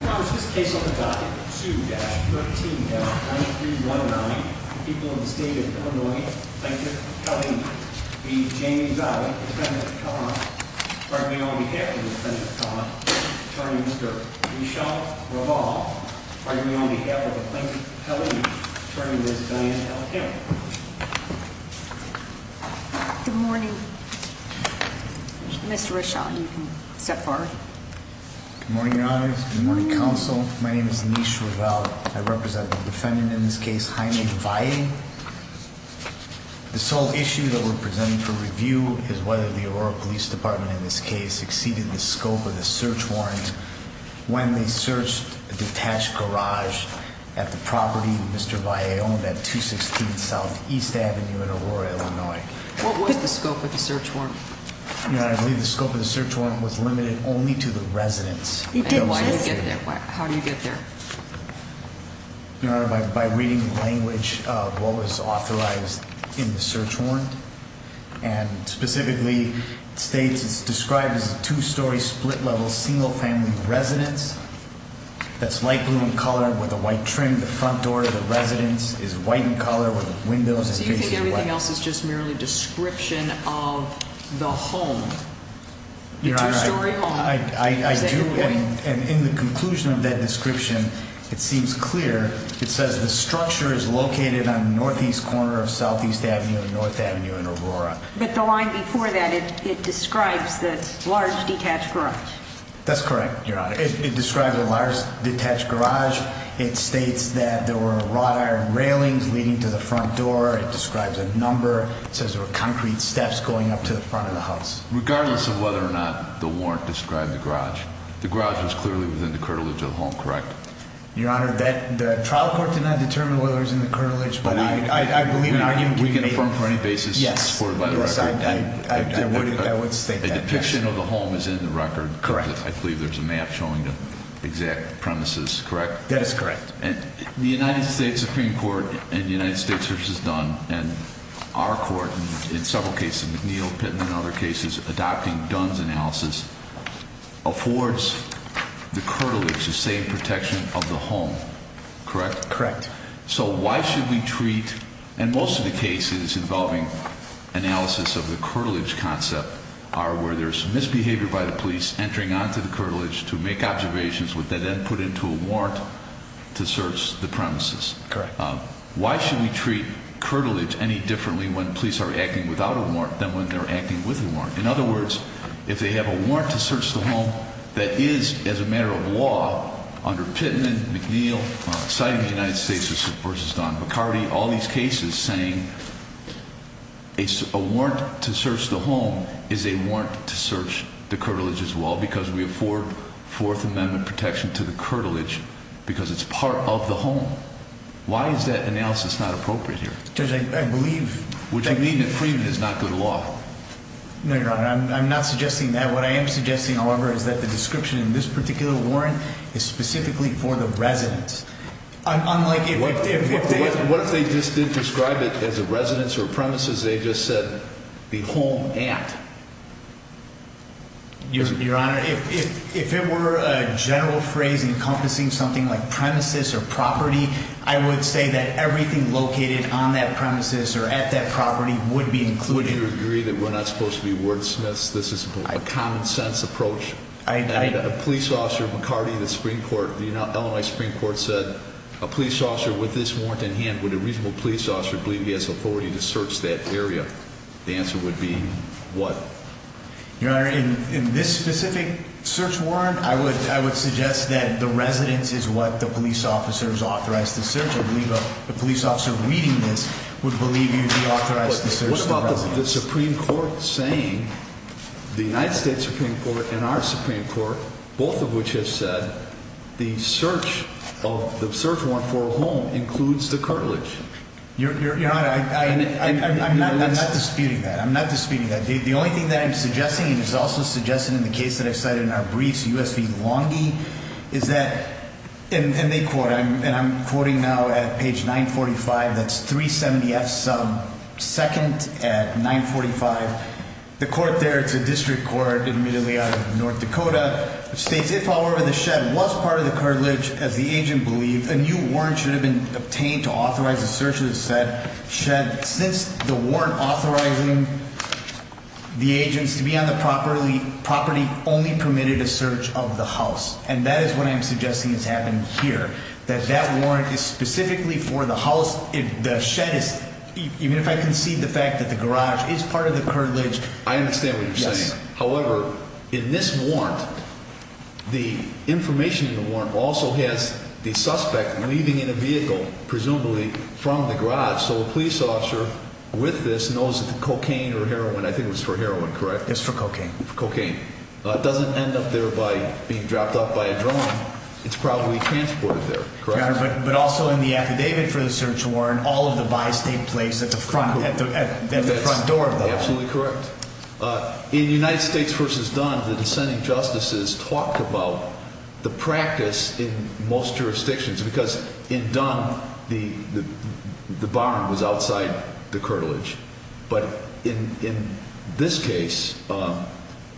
this case on the docket 2-13-9319, the people of the state of Illinois, Plaintiff Kelly v. Jamie Valle, Defendant of the Court, arguing on behalf of the Defendant of the Court, Attorney Mr. Rishal Raval, arguing on behalf of the Plaintiff Kelly, Attorney Ms. Diane L. Kim. Good morning. Mr. Rishal, you can step forward. Good morning, Your Honors. Good morning, Counsel. My name is Anish Raval. I represent the Defendant in this case, Jaime Valle. The sole issue that we're presenting for review is whether the Aurora Police Department in this case exceeded the scope of the search warrant when they searched a detached garage at the property that Mr. Valle owned at 216 Southeast Avenue in Aurora, Illinois. What was the scope of the search warrant? Your Honor, I believe the scope of the search warrant was limited only to the residents. And why did it get there? How did it get there? Your Honor, by reading the language of what was authorized in the search warrant. And specifically, it states it's described as a two-story split-level single-family residence that's light blue in color with a white trim. The front door of the residence is white in color with the windows and faces white. So you think everything else is just merely a description of the home? Your Honor, I do. And in the conclusion of that description, it seems clear. It says the structure is located on the northeast corner of Southeast Avenue and North Avenue in Aurora. But the line before that, it describes the large detached garage. That's correct, Your Honor. It describes a large detached garage. It states that there were wrought iron railings leading to the front door. It describes a number. It says there were concrete steps going up to the front of the house. Regardless of whether or not the warrant described the garage, the garage was clearly within the curtilage of the home, correct? Your Honor, the trial court did not determine whether it was in the curtilage, but I believe the argument can be made. We can affirm for any basis supported by the record. Yes, I would state that. A depiction of the home is in the record. Correct. I believe there's a map showing the exact premises, correct? That is correct. The United States Supreme Court in the United States versus Dunn, and our court in several cases, McNeil, Pittman, and other cases adopting Dunn's analysis, affords the curtilage the same protection of the home, correct? Correct. So why should we treat, and most of the cases involving analysis of the curtilage concept are where there's misbehavior by the police entering onto the curtilage to make observations, which they then put into a warrant to search the premises. Correct. Why should we treat curtilage any differently when police are acting without a warrant than when they're acting with a warrant? In other words, if they have a warrant to search the home that is, as a matter of law, under Pittman, McNeil, citing the United States versus Dunn-McCarty, all these cases saying a warrant to search the home is a warrant to search the curtilage as well because we afford Fourth Amendment protection to the curtilage because it's part of the home. Why is that analysis not appropriate here? Because I believe… Which would mean that freeing it is not good law. No, Your Honor. I'm not suggesting that. What I am suggesting, however, is that the description in this particular warrant is specifically for the residence. Unlike if they… What if they just did describe it as a residence or premises? They just said the home at. Your Honor, if it were a general phrase encompassing something like premises or property, I would say that everything located on that premises or at that property would be included. Would you agree that we're not supposed to be wordsmiths? This is a common sense approach. I… And a police officer, McCarty, the Supreme Court, the Illinois Supreme Court said, a police officer with this warrant in hand, would a reasonable police officer believe he has authority to search that area? The answer would be what? Your Honor, in this specific search warrant, I would suggest that the residence is what the police officers authorized to search. I believe a police officer reading this would believe he would be authorized to search the residence. You have the Supreme Court saying, the United States Supreme Court and our Supreme Court, both of which have said, the search warrant for a home includes the cartilage. Your Honor, I'm not disputing that. I'm not disputing that. The only thing that I'm suggesting, and it's also suggested in the case that I cited in our briefs, U.S. v. Lange, is that, and they quote, and I'm quoting now at page 945, that's 370F sub 2nd at 945. The court there, it's a district court, admittedly out of North Dakota, states, if, however, the shed was part of the cartilage, as the agent believed, a new warrant should have been obtained to authorize the search of the shed. Since the warrant authorizing the agents to be on the property only permitted a search of the house. And that is what I'm suggesting has happened here, that that warrant is specifically for the house, the shed is, even if I concede the fact that the garage is part of the cartilage. I understand what you're saying. However, in this warrant, the information in the warrant also has the suspect leaving in a vehicle, presumably from the garage. So a police officer with this knows that the cocaine or heroin, I think it was for heroin, correct? It's for cocaine. Cocaine. Doesn't end up there by being dropped off by a drone. It's probably transported there, correct? But also in the affidavit for the search warrant, all of the bystate place at the front, at the front door. Absolutely correct. In United States v. Dunn, the dissenting justices talked about the practice in most jurisdictions, because in Dunn, the barn was outside the cartilage. But in this case,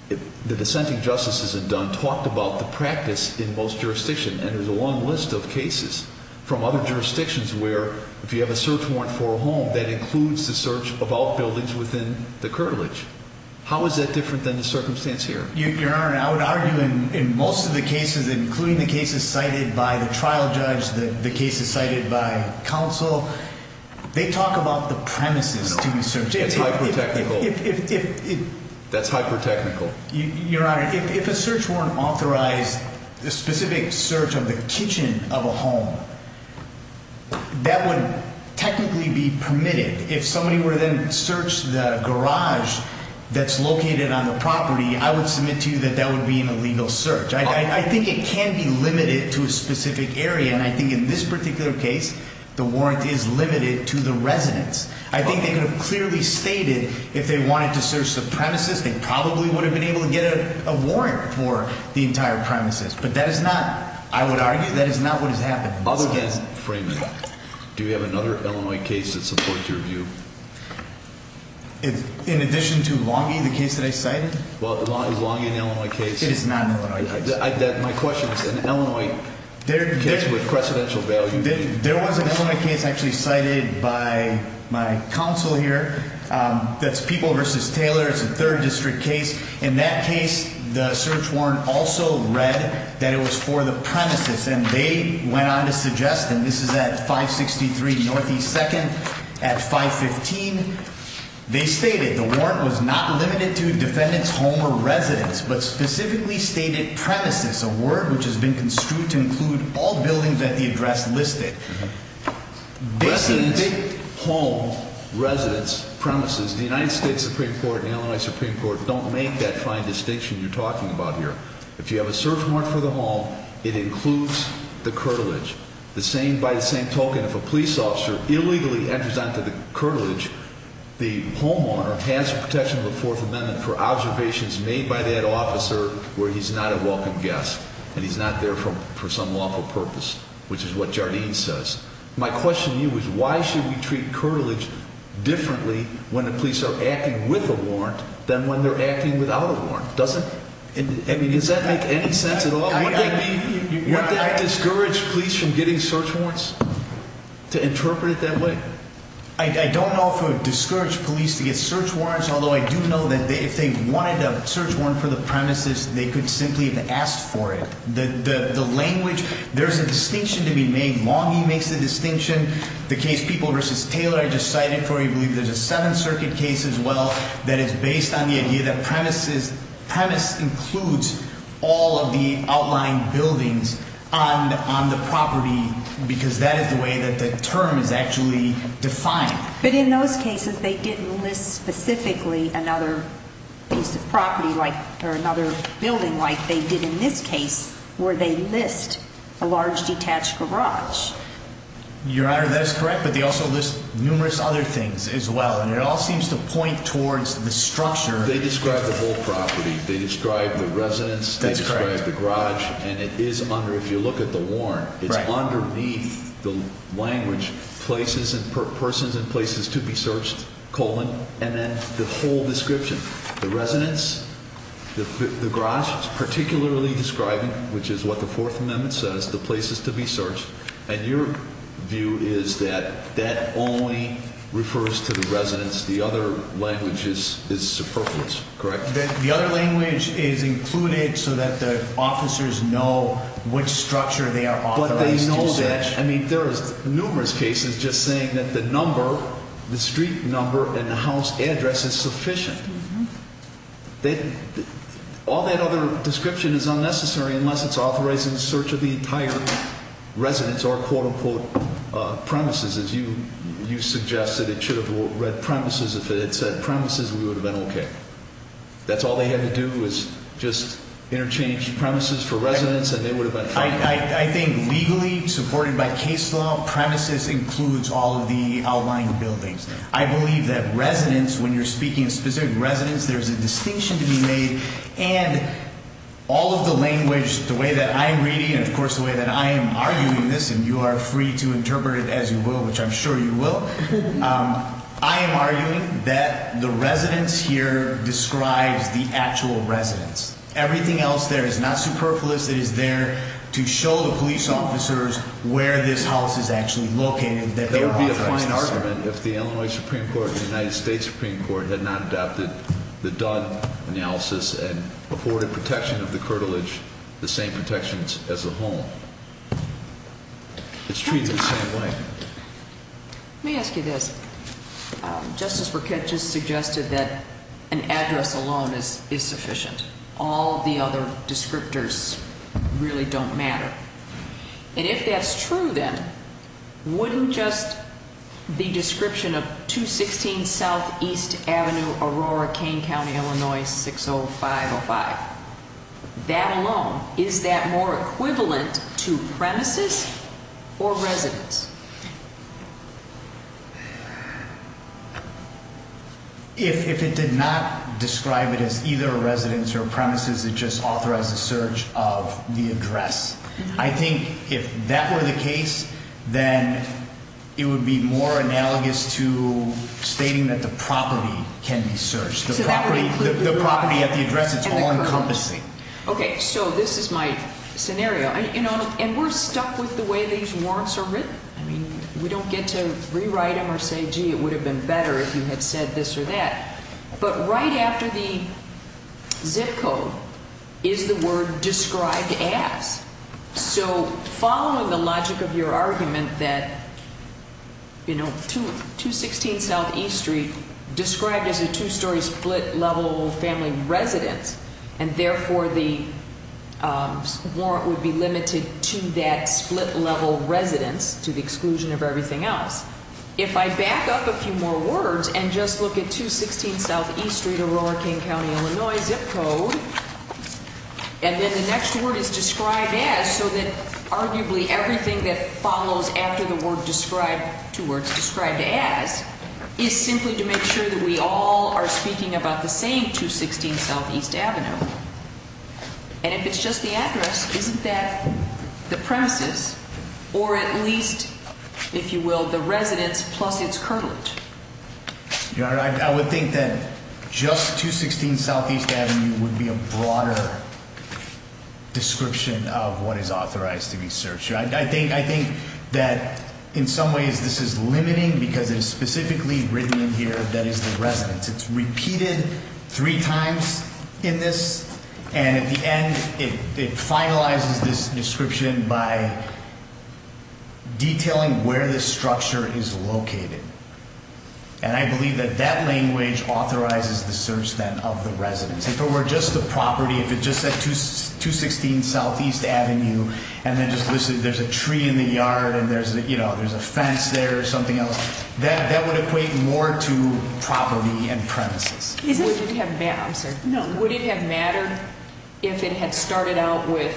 the dissenting justices in Dunn talked about the practice in most jurisdictions. And there's a long list of cases from other jurisdictions where if you have a search warrant for a home, that includes the search of outbuildings within the cartilage. How is that different than the circumstance here? Your Honor, I would argue in most of the cases, including the cases cited by the trial judge, the cases cited by counsel, they talk about the premises to be searched. It's hyper-technical. That's hyper-technical. Your Honor, if a search warrant authorized the specific search of the kitchen of a home, that would technically be permitted. If somebody were to then search the garage that's located on the property, I would submit to you that that would be an illegal search. I think it can be limited to a specific area, and I think in this particular case, the warrant is limited to the residence. I think they could have clearly stated if they wanted to search the premises, they probably would have been able to get a warrant for the entire premises. But that is not, I would argue, that is not what has happened. Other than Freeman, do you have another Illinois case that supports your view? In addition to Longy, the case that I cited? Well, is Longy an Illinois case? It is not an Illinois case. My question is, an Illinois case with precedential value? There was an Illinois case actually cited by my counsel here that's People v. Taylor. It's a 3rd District case. In that case, the search warrant also read that it was for the premises, and they went on to suggest, and this is at 563 Northeast 2nd at 515. They stated the warrant was not limited to defendant's home or residence, but specifically stated premises, a word which has been construed to include all buildings at the address listed. Residence, home, residence, premises, the United States Supreme Court and the Illinois Supreme Court don't make that fine distinction you're talking about here. If you have a search warrant for the home, it includes the curtilage. By the same token, if a police officer illegally enters onto the curtilage, the homeowner has protection of the Fourth Amendment for observations made by that officer where he's not a welcome guest. And he's not there for some lawful purpose, which is what Jardine says. My question to you is, why should we treat curtilage differently when the police are acting with a warrant than when they're acting without a warrant? Does that make any sense at all? Would that discourage police from getting search warrants? To interpret it that way? I don't know if it would discourage police to get search warrants, although I do know that if they wanted a search warrant for the premises, they could simply have asked for it. The language, there's a distinction to be made. Longie makes the distinction. The case People v. Taylor I just cited for you, I believe there's a Seventh Circuit case as well that is based on the idea that premise includes all of the outlying buildings on the property. Because that is the way that the term is actually defined. But in those cases, they didn't list specifically another piece of property or another building like they did in this case, where they list a large detached garage. Your Honor, that is correct, but they also list numerous other things as well. And it all seems to point towards the structure. They describe the whole property. They describe the residence. They describe the garage. And it is under, if you look at the warrant, it's underneath the language, persons and places to be searched, colon, and then the whole description. The residence, the garage is particularly describing, which is what the Fourth Amendment says, the places to be searched. And your view is that that only refers to the residence. The other language is superfluous, correct? The other language is included so that the officers know which structure they are authorized to search. But they know that. I mean, there is numerous cases just saying that the number, the street number, and the house address is sufficient. All that other description is unnecessary unless it's authorized in search of the entire residence or, quote, unquote, premises. You suggested it should have read premises. If it had said premises, we would have been okay. That's all they had to do was just interchange premises for residence, and they would have been fine. I think legally, supported by case law, premises includes all of the outlying buildings. I believe that residence, when you're speaking of specific residence, there's a distinction to be made. And all of the language, the way that I'm reading, and, of course, the way that I am arguing this, and you are free to interpret it as you will, which I'm sure you will. I am arguing that the residence here describes the actual residence. Everything else there is not superfluous. It is there to show the police officers where this house is actually located, that they are authorized to search. If the Illinois Supreme Court and the United States Supreme Court had not adopted the Dunn analysis and afforded protection of the curtilage the same protections as the home. It's treated the same way. Let me ask you this. Justice Burkett just suggested that an address alone is sufficient. All the other descriptors really don't matter. And if that's true, then wouldn't just the description of 216 Southeast Avenue, Aurora, Kane County, Illinois, 60505. That alone, is that more equivalent to premises or residence? If it did not describe it as either a residence or premises, it just authorized the search of the address. I think if that were the case, then it would be more analogous to stating that the property can be searched. The property at the address, it's all encompassing. Okay. So this is my scenario. And we're stuck with the way these warrants are written. I mean, we don't get to rewrite them or say, gee, it would have been better if you had said this or that. But right after the zip code is the word described as. So following the logic of your argument that, you know, 216 Southeast Street described as a two-story split-level family residence. And therefore, the warrant would be limited to that split-level residence to the exclusion of everything else. If I back up a few more words and just look at 216 Southeast Street, Aurora, Kane County, Illinois, zip code. And then the next word is described as so that arguably everything that follows after the word described, two words described as, is simply to make sure that we all are speaking about the same 216 Southeast Avenue. And if it's just the address, isn't that the premises or at least, if you will, the residence plus its curtilage? I would think that just 216 Southeast Avenue would be a broader description of what is authorized to be searched. I think that in some ways this is limiting because it is specifically written in here that is the residence. It's repeated three times in this. And at the end, it finalizes this description by detailing where this structure is located. And I believe that that language authorizes the search then of the residence. If it were just the property, if it just said 216 Southeast Avenue and then just listed there's a tree in the yard and there's a fence there or something else, that would equate more to property and premises. Would it have mattered if it had started out with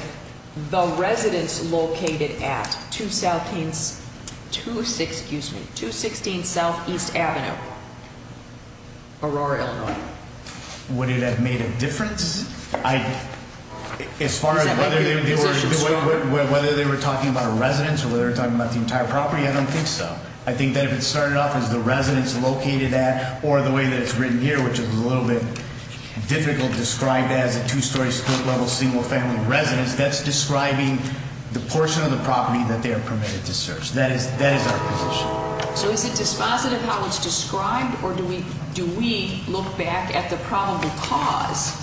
the residence located at 216 Southeast Avenue, Aurora, Illinois? Would it have made a difference? As far as whether they were talking about a residence or whether they were talking about the entire property, I don't think so. I think that if it started off as the residence located at or the way that it's written here, which is a little bit difficult to describe as a two-story, split-level, single-family residence, that's describing the portion of the property that they are permitted to search. That is our position. So is it dispositive how it's described or do we look back at the probable cause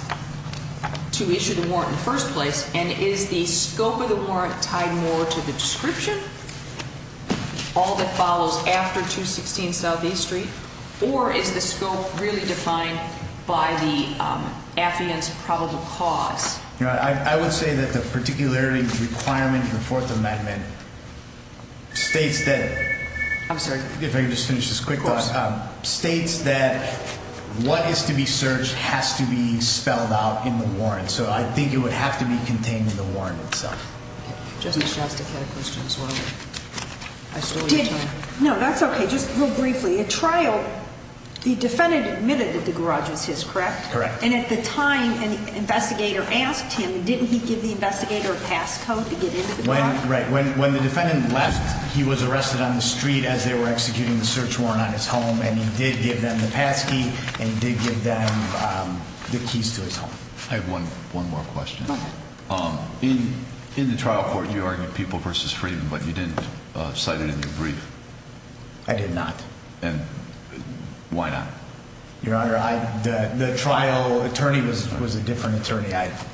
to issue the warrant in the first place? And is the scope of the warrant tied more to the description? All that follows after 216 Southeast Street? Or is the scope really defined by the affidavit's probable cause? I would say that the particularity requirement in the Fourth Amendment states that what is to be searched has to be spelled out in the warrant. So I think it would have to be contained in the warrant itself. Justice Shastick had a question as well. I stole your time. No, that's okay. Just real briefly. At trial, the defendant admitted that the garage was his, correct? Correct. And at the time, an investigator asked him, didn't he give the investigator a passcode to get into the garage? Right. When the defendant left, he was arrested on the street as they were executing the search warrant on his home, and he did give them the passkey and he did give them the keys to his home. I have one more question. Okay. In the trial court, you argued People v. Freeman, but you didn't cite it in your brief. I did not. And why not? Your Honor, the trial attorney was a different attorney.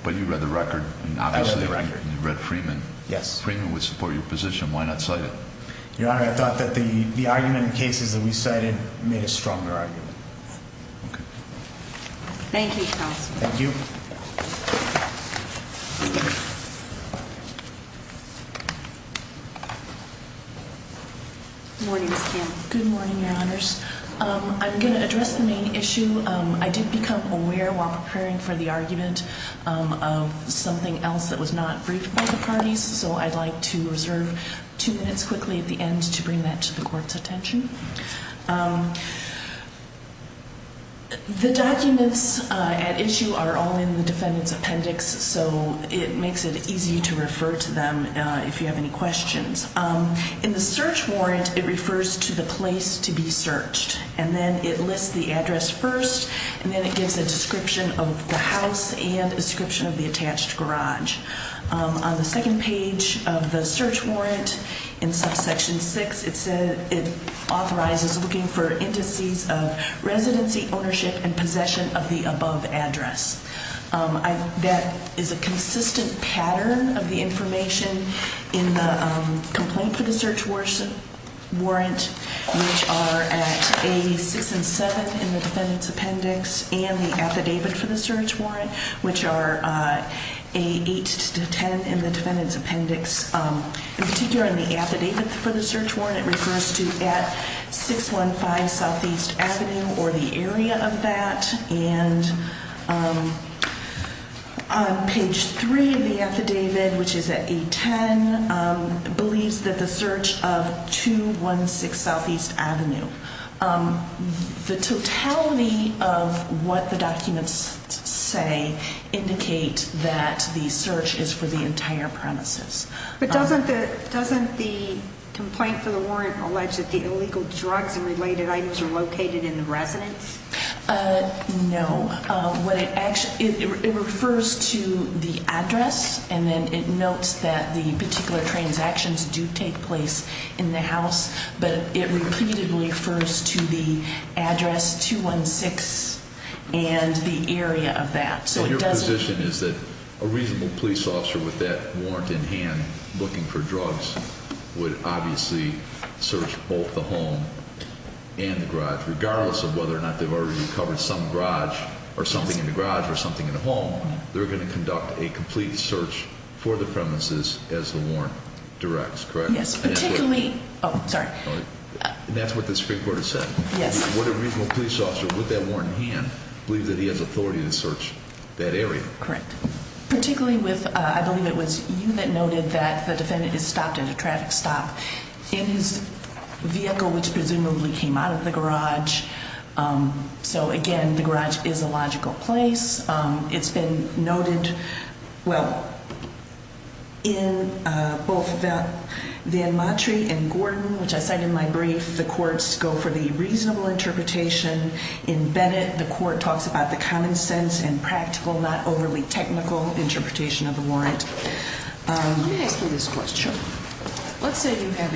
But you read the record. I read the record. And you read Freeman. Yes. Freeman would support your position. Why not cite it? Your Honor, I thought that the argument in cases that we cited made a stronger argument. Okay. Thank you, counsel. Thank you. Good morning, Ms. Kim. Good morning, Your Honors. I'm going to address the main issue. I did become aware while preparing for the argument of something else that was not briefed by the parties, so I'd like to reserve two minutes quickly at the end to bring that to the Court's attention. The documents at issue are all in the defendant's appendix, so it makes it easy to refer to them if you have any questions. In the search warrant, it refers to the place to be searched, and then it lists the address first, and then it gives a description of the house and a description of the attached garage. On the second page of the search warrant, in subsection 6, it authorizes looking for indices of residency, ownership, and possession of the above address. That is a consistent pattern of the information in the complaint for the search warrant, which are at A6 and 7 in the defendant's appendix, and the affidavit for the search warrant, which are A8 to 10 in the defendant's appendix. In particular, in the affidavit for the search warrant, it refers to at 615 Southeast Avenue or the area of that, and on page 3 of the affidavit, which is at A10, it believes that the search of 216 Southeast Avenue. The totality of what the documents say indicate that the search is for the entire premises. But doesn't the complaint for the warrant allege that the illegal drugs and related items are located in the residence? No. It refers to the address, and then it notes that the particular transactions do take place in the house, but it repeatedly refers to the address 216 and the area of that. So your position is that a reasonable police officer with that warrant in hand looking for drugs would obviously search both the home and the garage, regardless of whether or not they've already recovered some garage or something in the garage or something in the home. They're going to conduct a complete search for the premises as the warrant directs, correct? Yes, particularly. Oh, sorry. And that's what the Supreme Court has said? Yes. Would a reasonable police officer with that warrant in hand believe that he has authority to search that area? Correct. Particularly with, I believe it was you that noted that the defendant is stopped at a traffic stop in his vehicle, which presumably came out of the garage. So, again, the garage is a logical place. It's been noted, well, in both Van Matre and Gordon, which I cite in my brief, the courts go for the reasonable interpretation. In Bennett, the court talks about the common sense and practical, not overly technical, interpretation of the warrant. Let me ask you this question. Let's say you have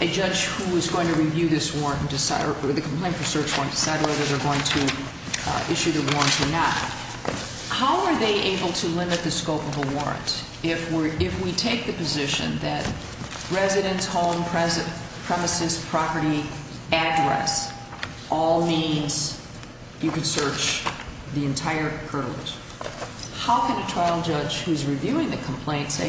a judge who is going to review this warrant and decide, or the complaint for search warrant, decide whether they're going to issue the warrant or not. How are they able to limit the scope of a warrant if we take the position that residence, home, premises, property, address all means you could search the entire curb? How can a trial judge who's reviewing the complaint say,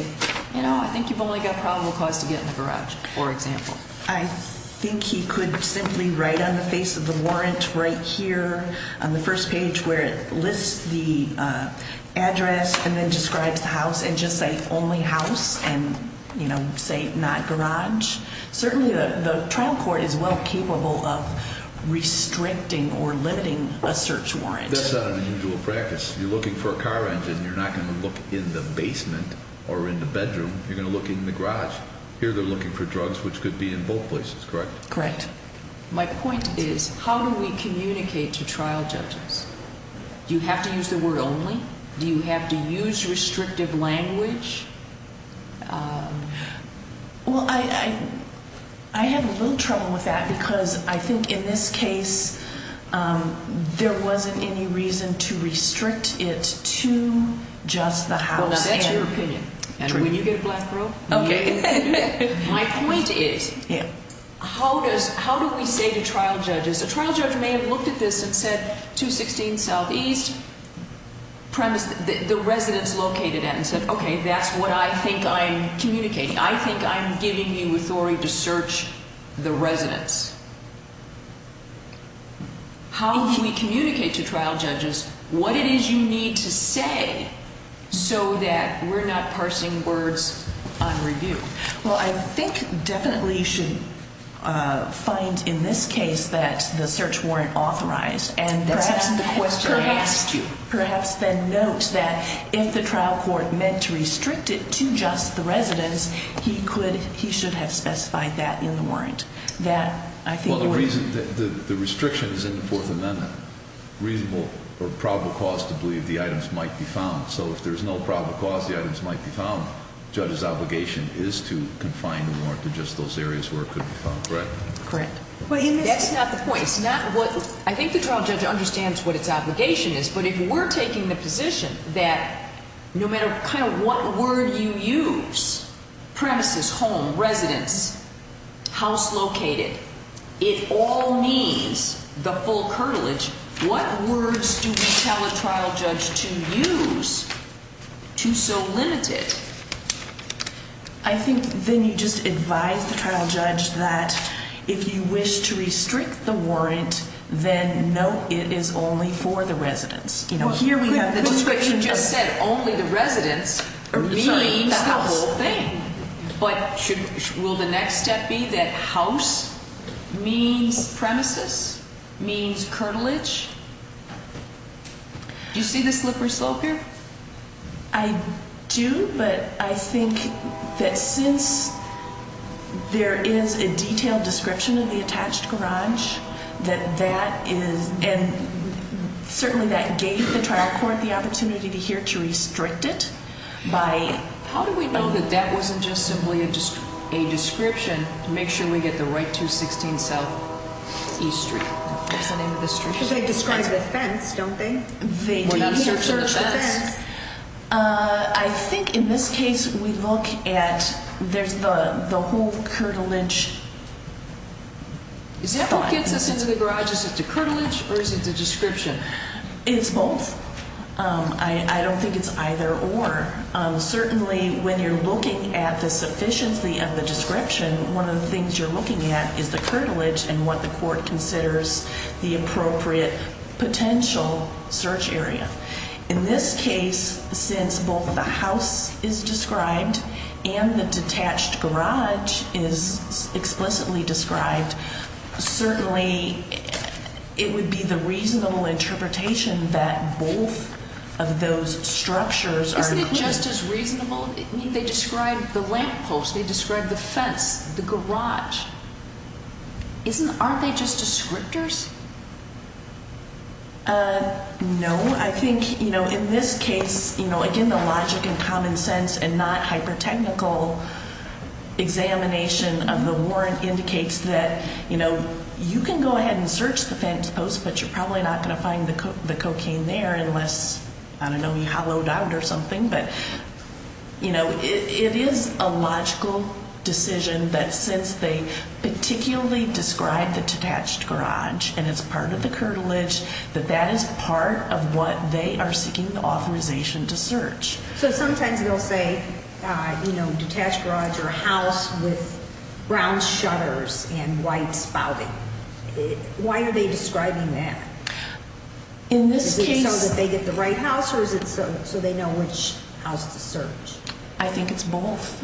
you know, I think you've only got probable cause to get in the garage, for example? I think he could simply write on the face of the warrant right here on the first page where it lists the address and then describes the house and just say only house and, you know, say not garage. Certainly the trial court is well capable of restricting or limiting a search warrant. That's not an unusual practice. If you're looking for a car engine, you're not going to look in the basement or in the bedroom. You're going to look in the garage. Here they're looking for drugs, which could be in both places, correct? Correct. My point is how do we communicate to trial judges? Do you have to use the word only? Do you have to use restrictive language? Well, I have a little trouble with that because I think in this case there wasn't any reason to restrict it to just the house. Well, that's your opinion. When you get a black rope. Okay. My point is how do we say to trial judges? A trial judge may have looked at this and said 216 Southeast, the residence located at and said, okay, that's what I think I'm communicating. I think I'm giving you authority to search the residence. How do we communicate to trial judges what it is you need to say so that we're not parsing words on review? Well, I think definitely you should find in this case that the search warrant authorized. Perhaps then note that if the trial court meant to restrict it to just the residence, he should have specified that in the warrant. The restriction is in the Fourth Amendment, reasonable or probable cause to believe the items might be found. So if there's no probable cause the items might be found, judge's obligation is to confine the warrant to just those areas where it could be found, correct? Correct. That's not the point. I think the trial judge understands what its obligation is, but if we're taking the position that no matter kind of what word you use, premises, home, residence, house located, it all needs the full curtilage. What words do we tell a trial judge to use to so limit it? I think then you just advise the trial judge that if you wish to restrict the warrant, then no, it is only for the residence. You know, here we have the description. You just said only the residence means the whole thing. But will the next step be that house means premises, means curtilage? Do you see the slippery slope here? I do, but I think that since there is a detailed description of the attached garage, that that is, and certainly that gave the trial court the opportunity to hear to restrict it. How do we know that that wasn't just simply a description to make sure we get the right 216 South E Street? That's the name of the street? Because they describe the fence, don't they? We're not searching the fence. I think in this case we look at, there's the whole curtilage. Is that what gets us into the garage? Is it the curtilage or is it the description? It's both. I don't think it's either or. Certainly when you're looking at the sufficiency of the description, one of the things you're looking at is the curtilage and what the court considers the appropriate potential search area. In this case, since both the house is described and the detached garage is explicitly described, certainly it would be the reasonable interpretation that both of those structures are included. Just as reasonable, they describe the lamppost, they describe the fence, the garage. Aren't they just descriptors? No. I think in this case, again, the logic and common sense and not hypertechnical examination of the warrant indicates that you can go ahead and search the fence post, but you're probably not going to find the cocaine there unless, I don't know, you hollowed out or something. It is a logical decision that since they particularly describe the detached garage and it's part of the curtilage, that that is part of what they are seeking authorization to search. Sometimes they'll say detached garage or house with brown shutters and white spouting. Why are they describing that? Is it so that they get the right house or is it so they know which house to search? I think it's both.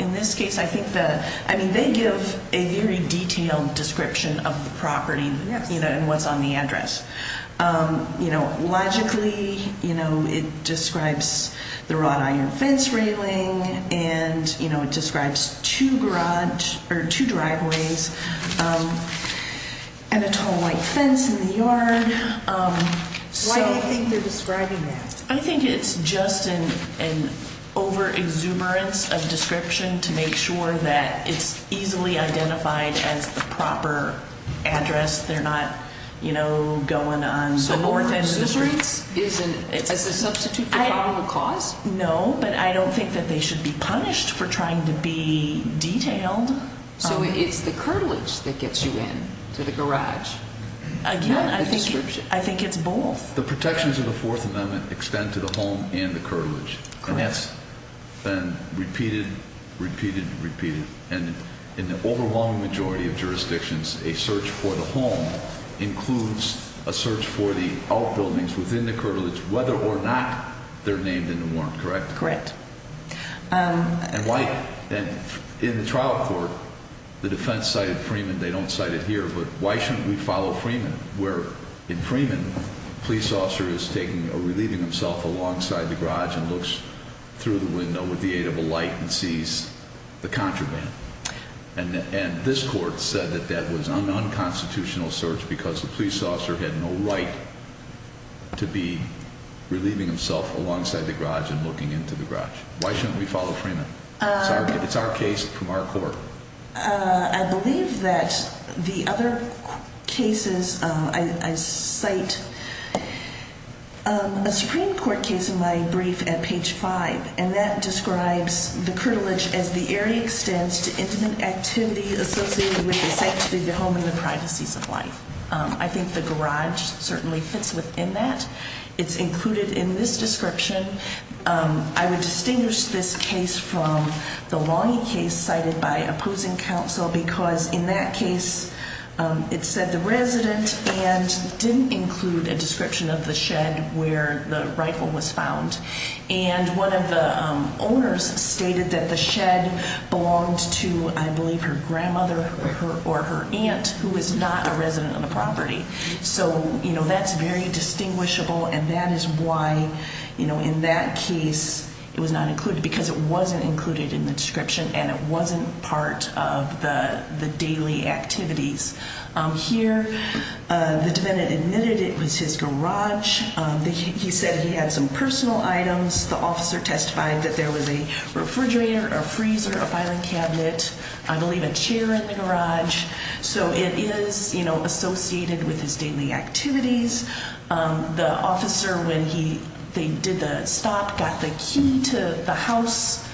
In this case, they give a very detailed description of the property and what's on the address. Logically, it describes the wrought iron fence railing and it describes two driveways and a tall white fence in the yard. Why do you think they're describing that? I think it's just an over-exuberance of description to make sure that it's easily identified as the proper address. They're not going on more than the streets. So over-exuberance is a substitute for problem of cause? No, but I don't think that they should be punished for trying to be detailed. So it's the curtilage that gets you in to the garage? Again, I think it's both. The protections of the Fourth Amendment extend to the home and the curtilage. Correct. And that's been repeated, repeated, repeated. And in the overwhelming majority of jurisdictions, a search for the home includes a search for the outbuildings within the curtilage, whether or not they're named in the warrant. Correct? Correct. In the trial court, the defense cited Freeman. They don't cite it here. But why shouldn't we follow Freeman? Where in Freeman, a police officer is taking or relieving himself alongside the garage and looks through the window with the aid of a light and sees the contraband. And this court said that that was an unconstitutional search because the police officer had no right to be relieving himself alongside the garage and looking into the garage. Why shouldn't we follow Freeman? It's our case from our court. I believe that the other cases, I cite a Supreme Court case in my brief at page five. And that describes the curtilage as the area extends to intimate activity associated with the sanctity of the home and the privacies of life. I think the garage certainly fits within that. It's included in this description. I would distinguish this case from the Longy case cited by opposing counsel because in that case, it said the resident and didn't include a description of the shed where the rifle was found. And one of the owners stated that the shed belonged to, I believe, her grandmother or her aunt, who is not a resident of the property. So, you know, that's very distinguishable. And that is why, you know, in that case, it was not included because it wasn't included in the description and it wasn't part of the daily activities. Here, the defendant admitted it was his garage. He said he had some personal items. The officer testified that there was a refrigerator, a freezer, a filing cabinet, I believe a chair in the garage. So it is, you know, associated with his daily activities. The officer, when he did the stop, got the key to the house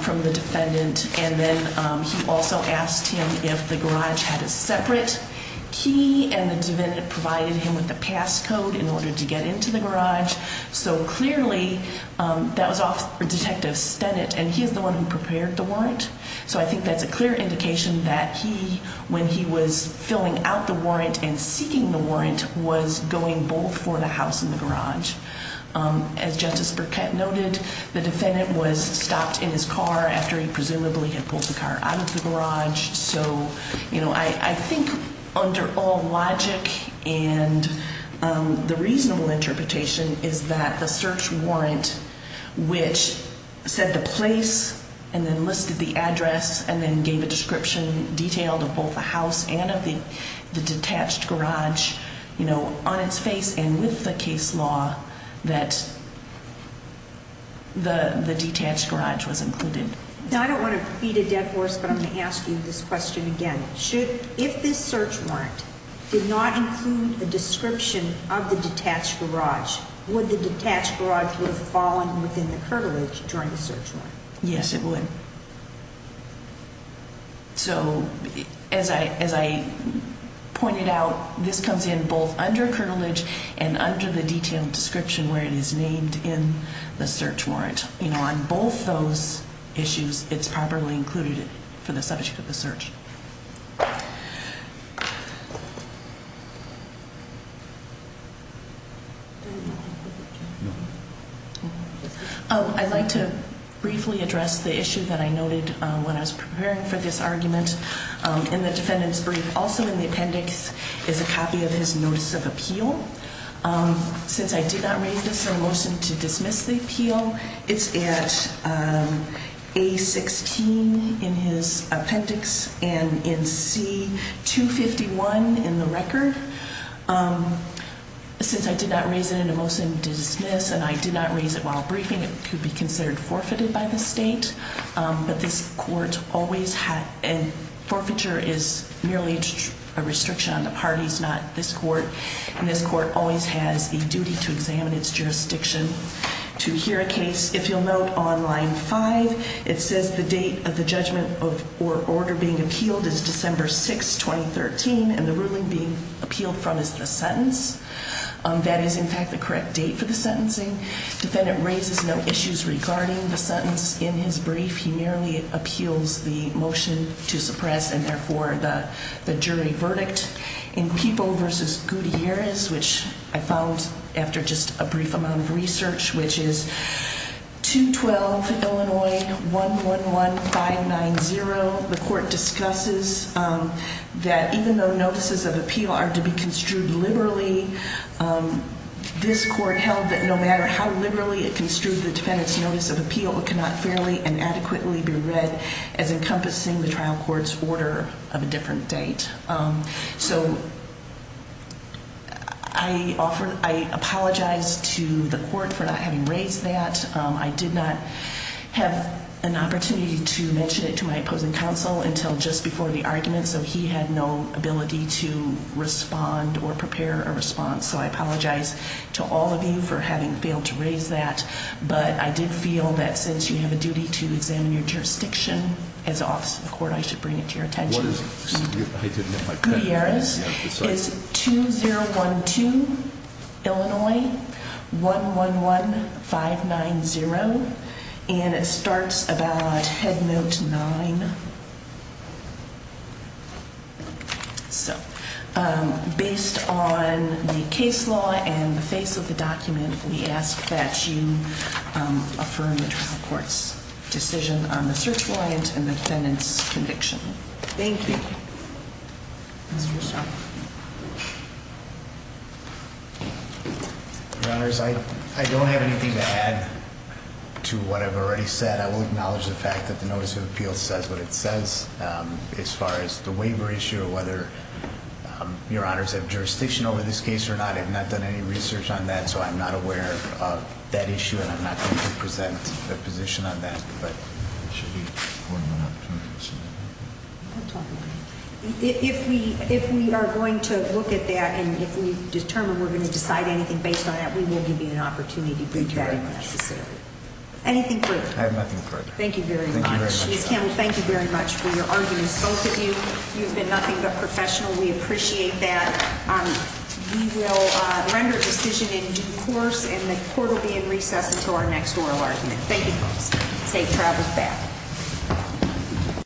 from the defendant. And then he also asked him if the garage had a separate key. And the defendant provided him with a passcode in order to get into the garage. So clearly that was off Detective Stennett. And he is the one who prepared the warrant. So I think that's a clear indication that he, when he was filling out the warrant and seeking the warrant, was going both for the house and the garage. As Justice Burkett noted, the defendant was stopped in his car after he presumably had pulled the car out of the garage. So, you know, I think under all logic and the reasonable interpretation is that the search warrant, which said the place and then listed the address and then gave a description detailed of both the house and of the detached garage, you know, on its face and with the case law that the detached garage was included. Now, I don't want to feed a dead horse, but I'm going to ask you this question again. If this search warrant did not include a description of the detached garage, would the detached garage have fallen within the cartilage during the search warrant? Yes, it would. So as I pointed out, this comes in both under cartilage and under the detailed description where it is named in the search warrant. You know, on both those issues, it's properly included for the subject of the search. I'd like to briefly address the issue that I noted when I was preparing for this argument in the defendant's brief. Also in the appendix is a copy of his notice of appeal. Since I did not raise this in a motion to dismiss the appeal, it's at A-16 in his appendix and in C-251 in the record. Since I did not raise it in a motion to dismiss and I did not raise it while briefing, it could be considered forfeited by the state. Forfeiture is merely a restriction on the parties, not this court. And this court always has a duty to examine its jurisdiction. To hear a case, if you'll note on line five, it says the date of the judgment or order being appealed is December 6, 2013. And the ruling being appealed from is the sentence. That is, in fact, the correct date for the sentencing. Defendant raises no issues regarding the sentence in his brief. He merely appeals the motion to suppress and, therefore, the jury verdict. In Peeble v. Gutierrez, which I found after just a brief amount of research, which is 212 Illinois 111590, the court discusses that even though notices of appeal are to be construed liberally, this court held that no matter how liberally it construed the defendant's notice of appeal, it cannot fairly and adequately be read as encompassing the trial court's order of a different date. So I apologize to the court for not having raised that. I did not have an opportunity to mention it to my opposing counsel until just before the argument, so he had no ability to respond or prepare a response. So I apologize to all of you for having failed to raise that. But I did feel that since you have a duty to examine your jurisdiction as office of court, I should bring it to your attention. What is it? I didn't get my pen. Gutierrez is 2012 Illinois 111590, and it starts about head note 9. So based on the case law and the face of the document, we ask that you affirm the trial court's decision on the search warrant and the defendant's conviction. Thank you. Mr. Russo. Your Honors, I don't have anything to add to what I've already said. I will acknowledge the fact that the notice of appeal says what it says. As far as the waiver issue, whether Your Honors have jurisdiction over this case or not, I have not done any research on that, so I'm not aware of that issue and I'm not going to present a position on that. But it should be one more opportunity. If we are going to look at that and if we determine we're going to decide anything based on that, we will give you an opportunity to do that if necessary. Anything further? I have nothing further. Thank you very much. Ms. Campbell, thank you very much for your arguments. Both of you, you've been nothing but professional. We appreciate that. We will render a decision in due course and the court will be in recess until our next oral argument. Thank you both. Take travels back.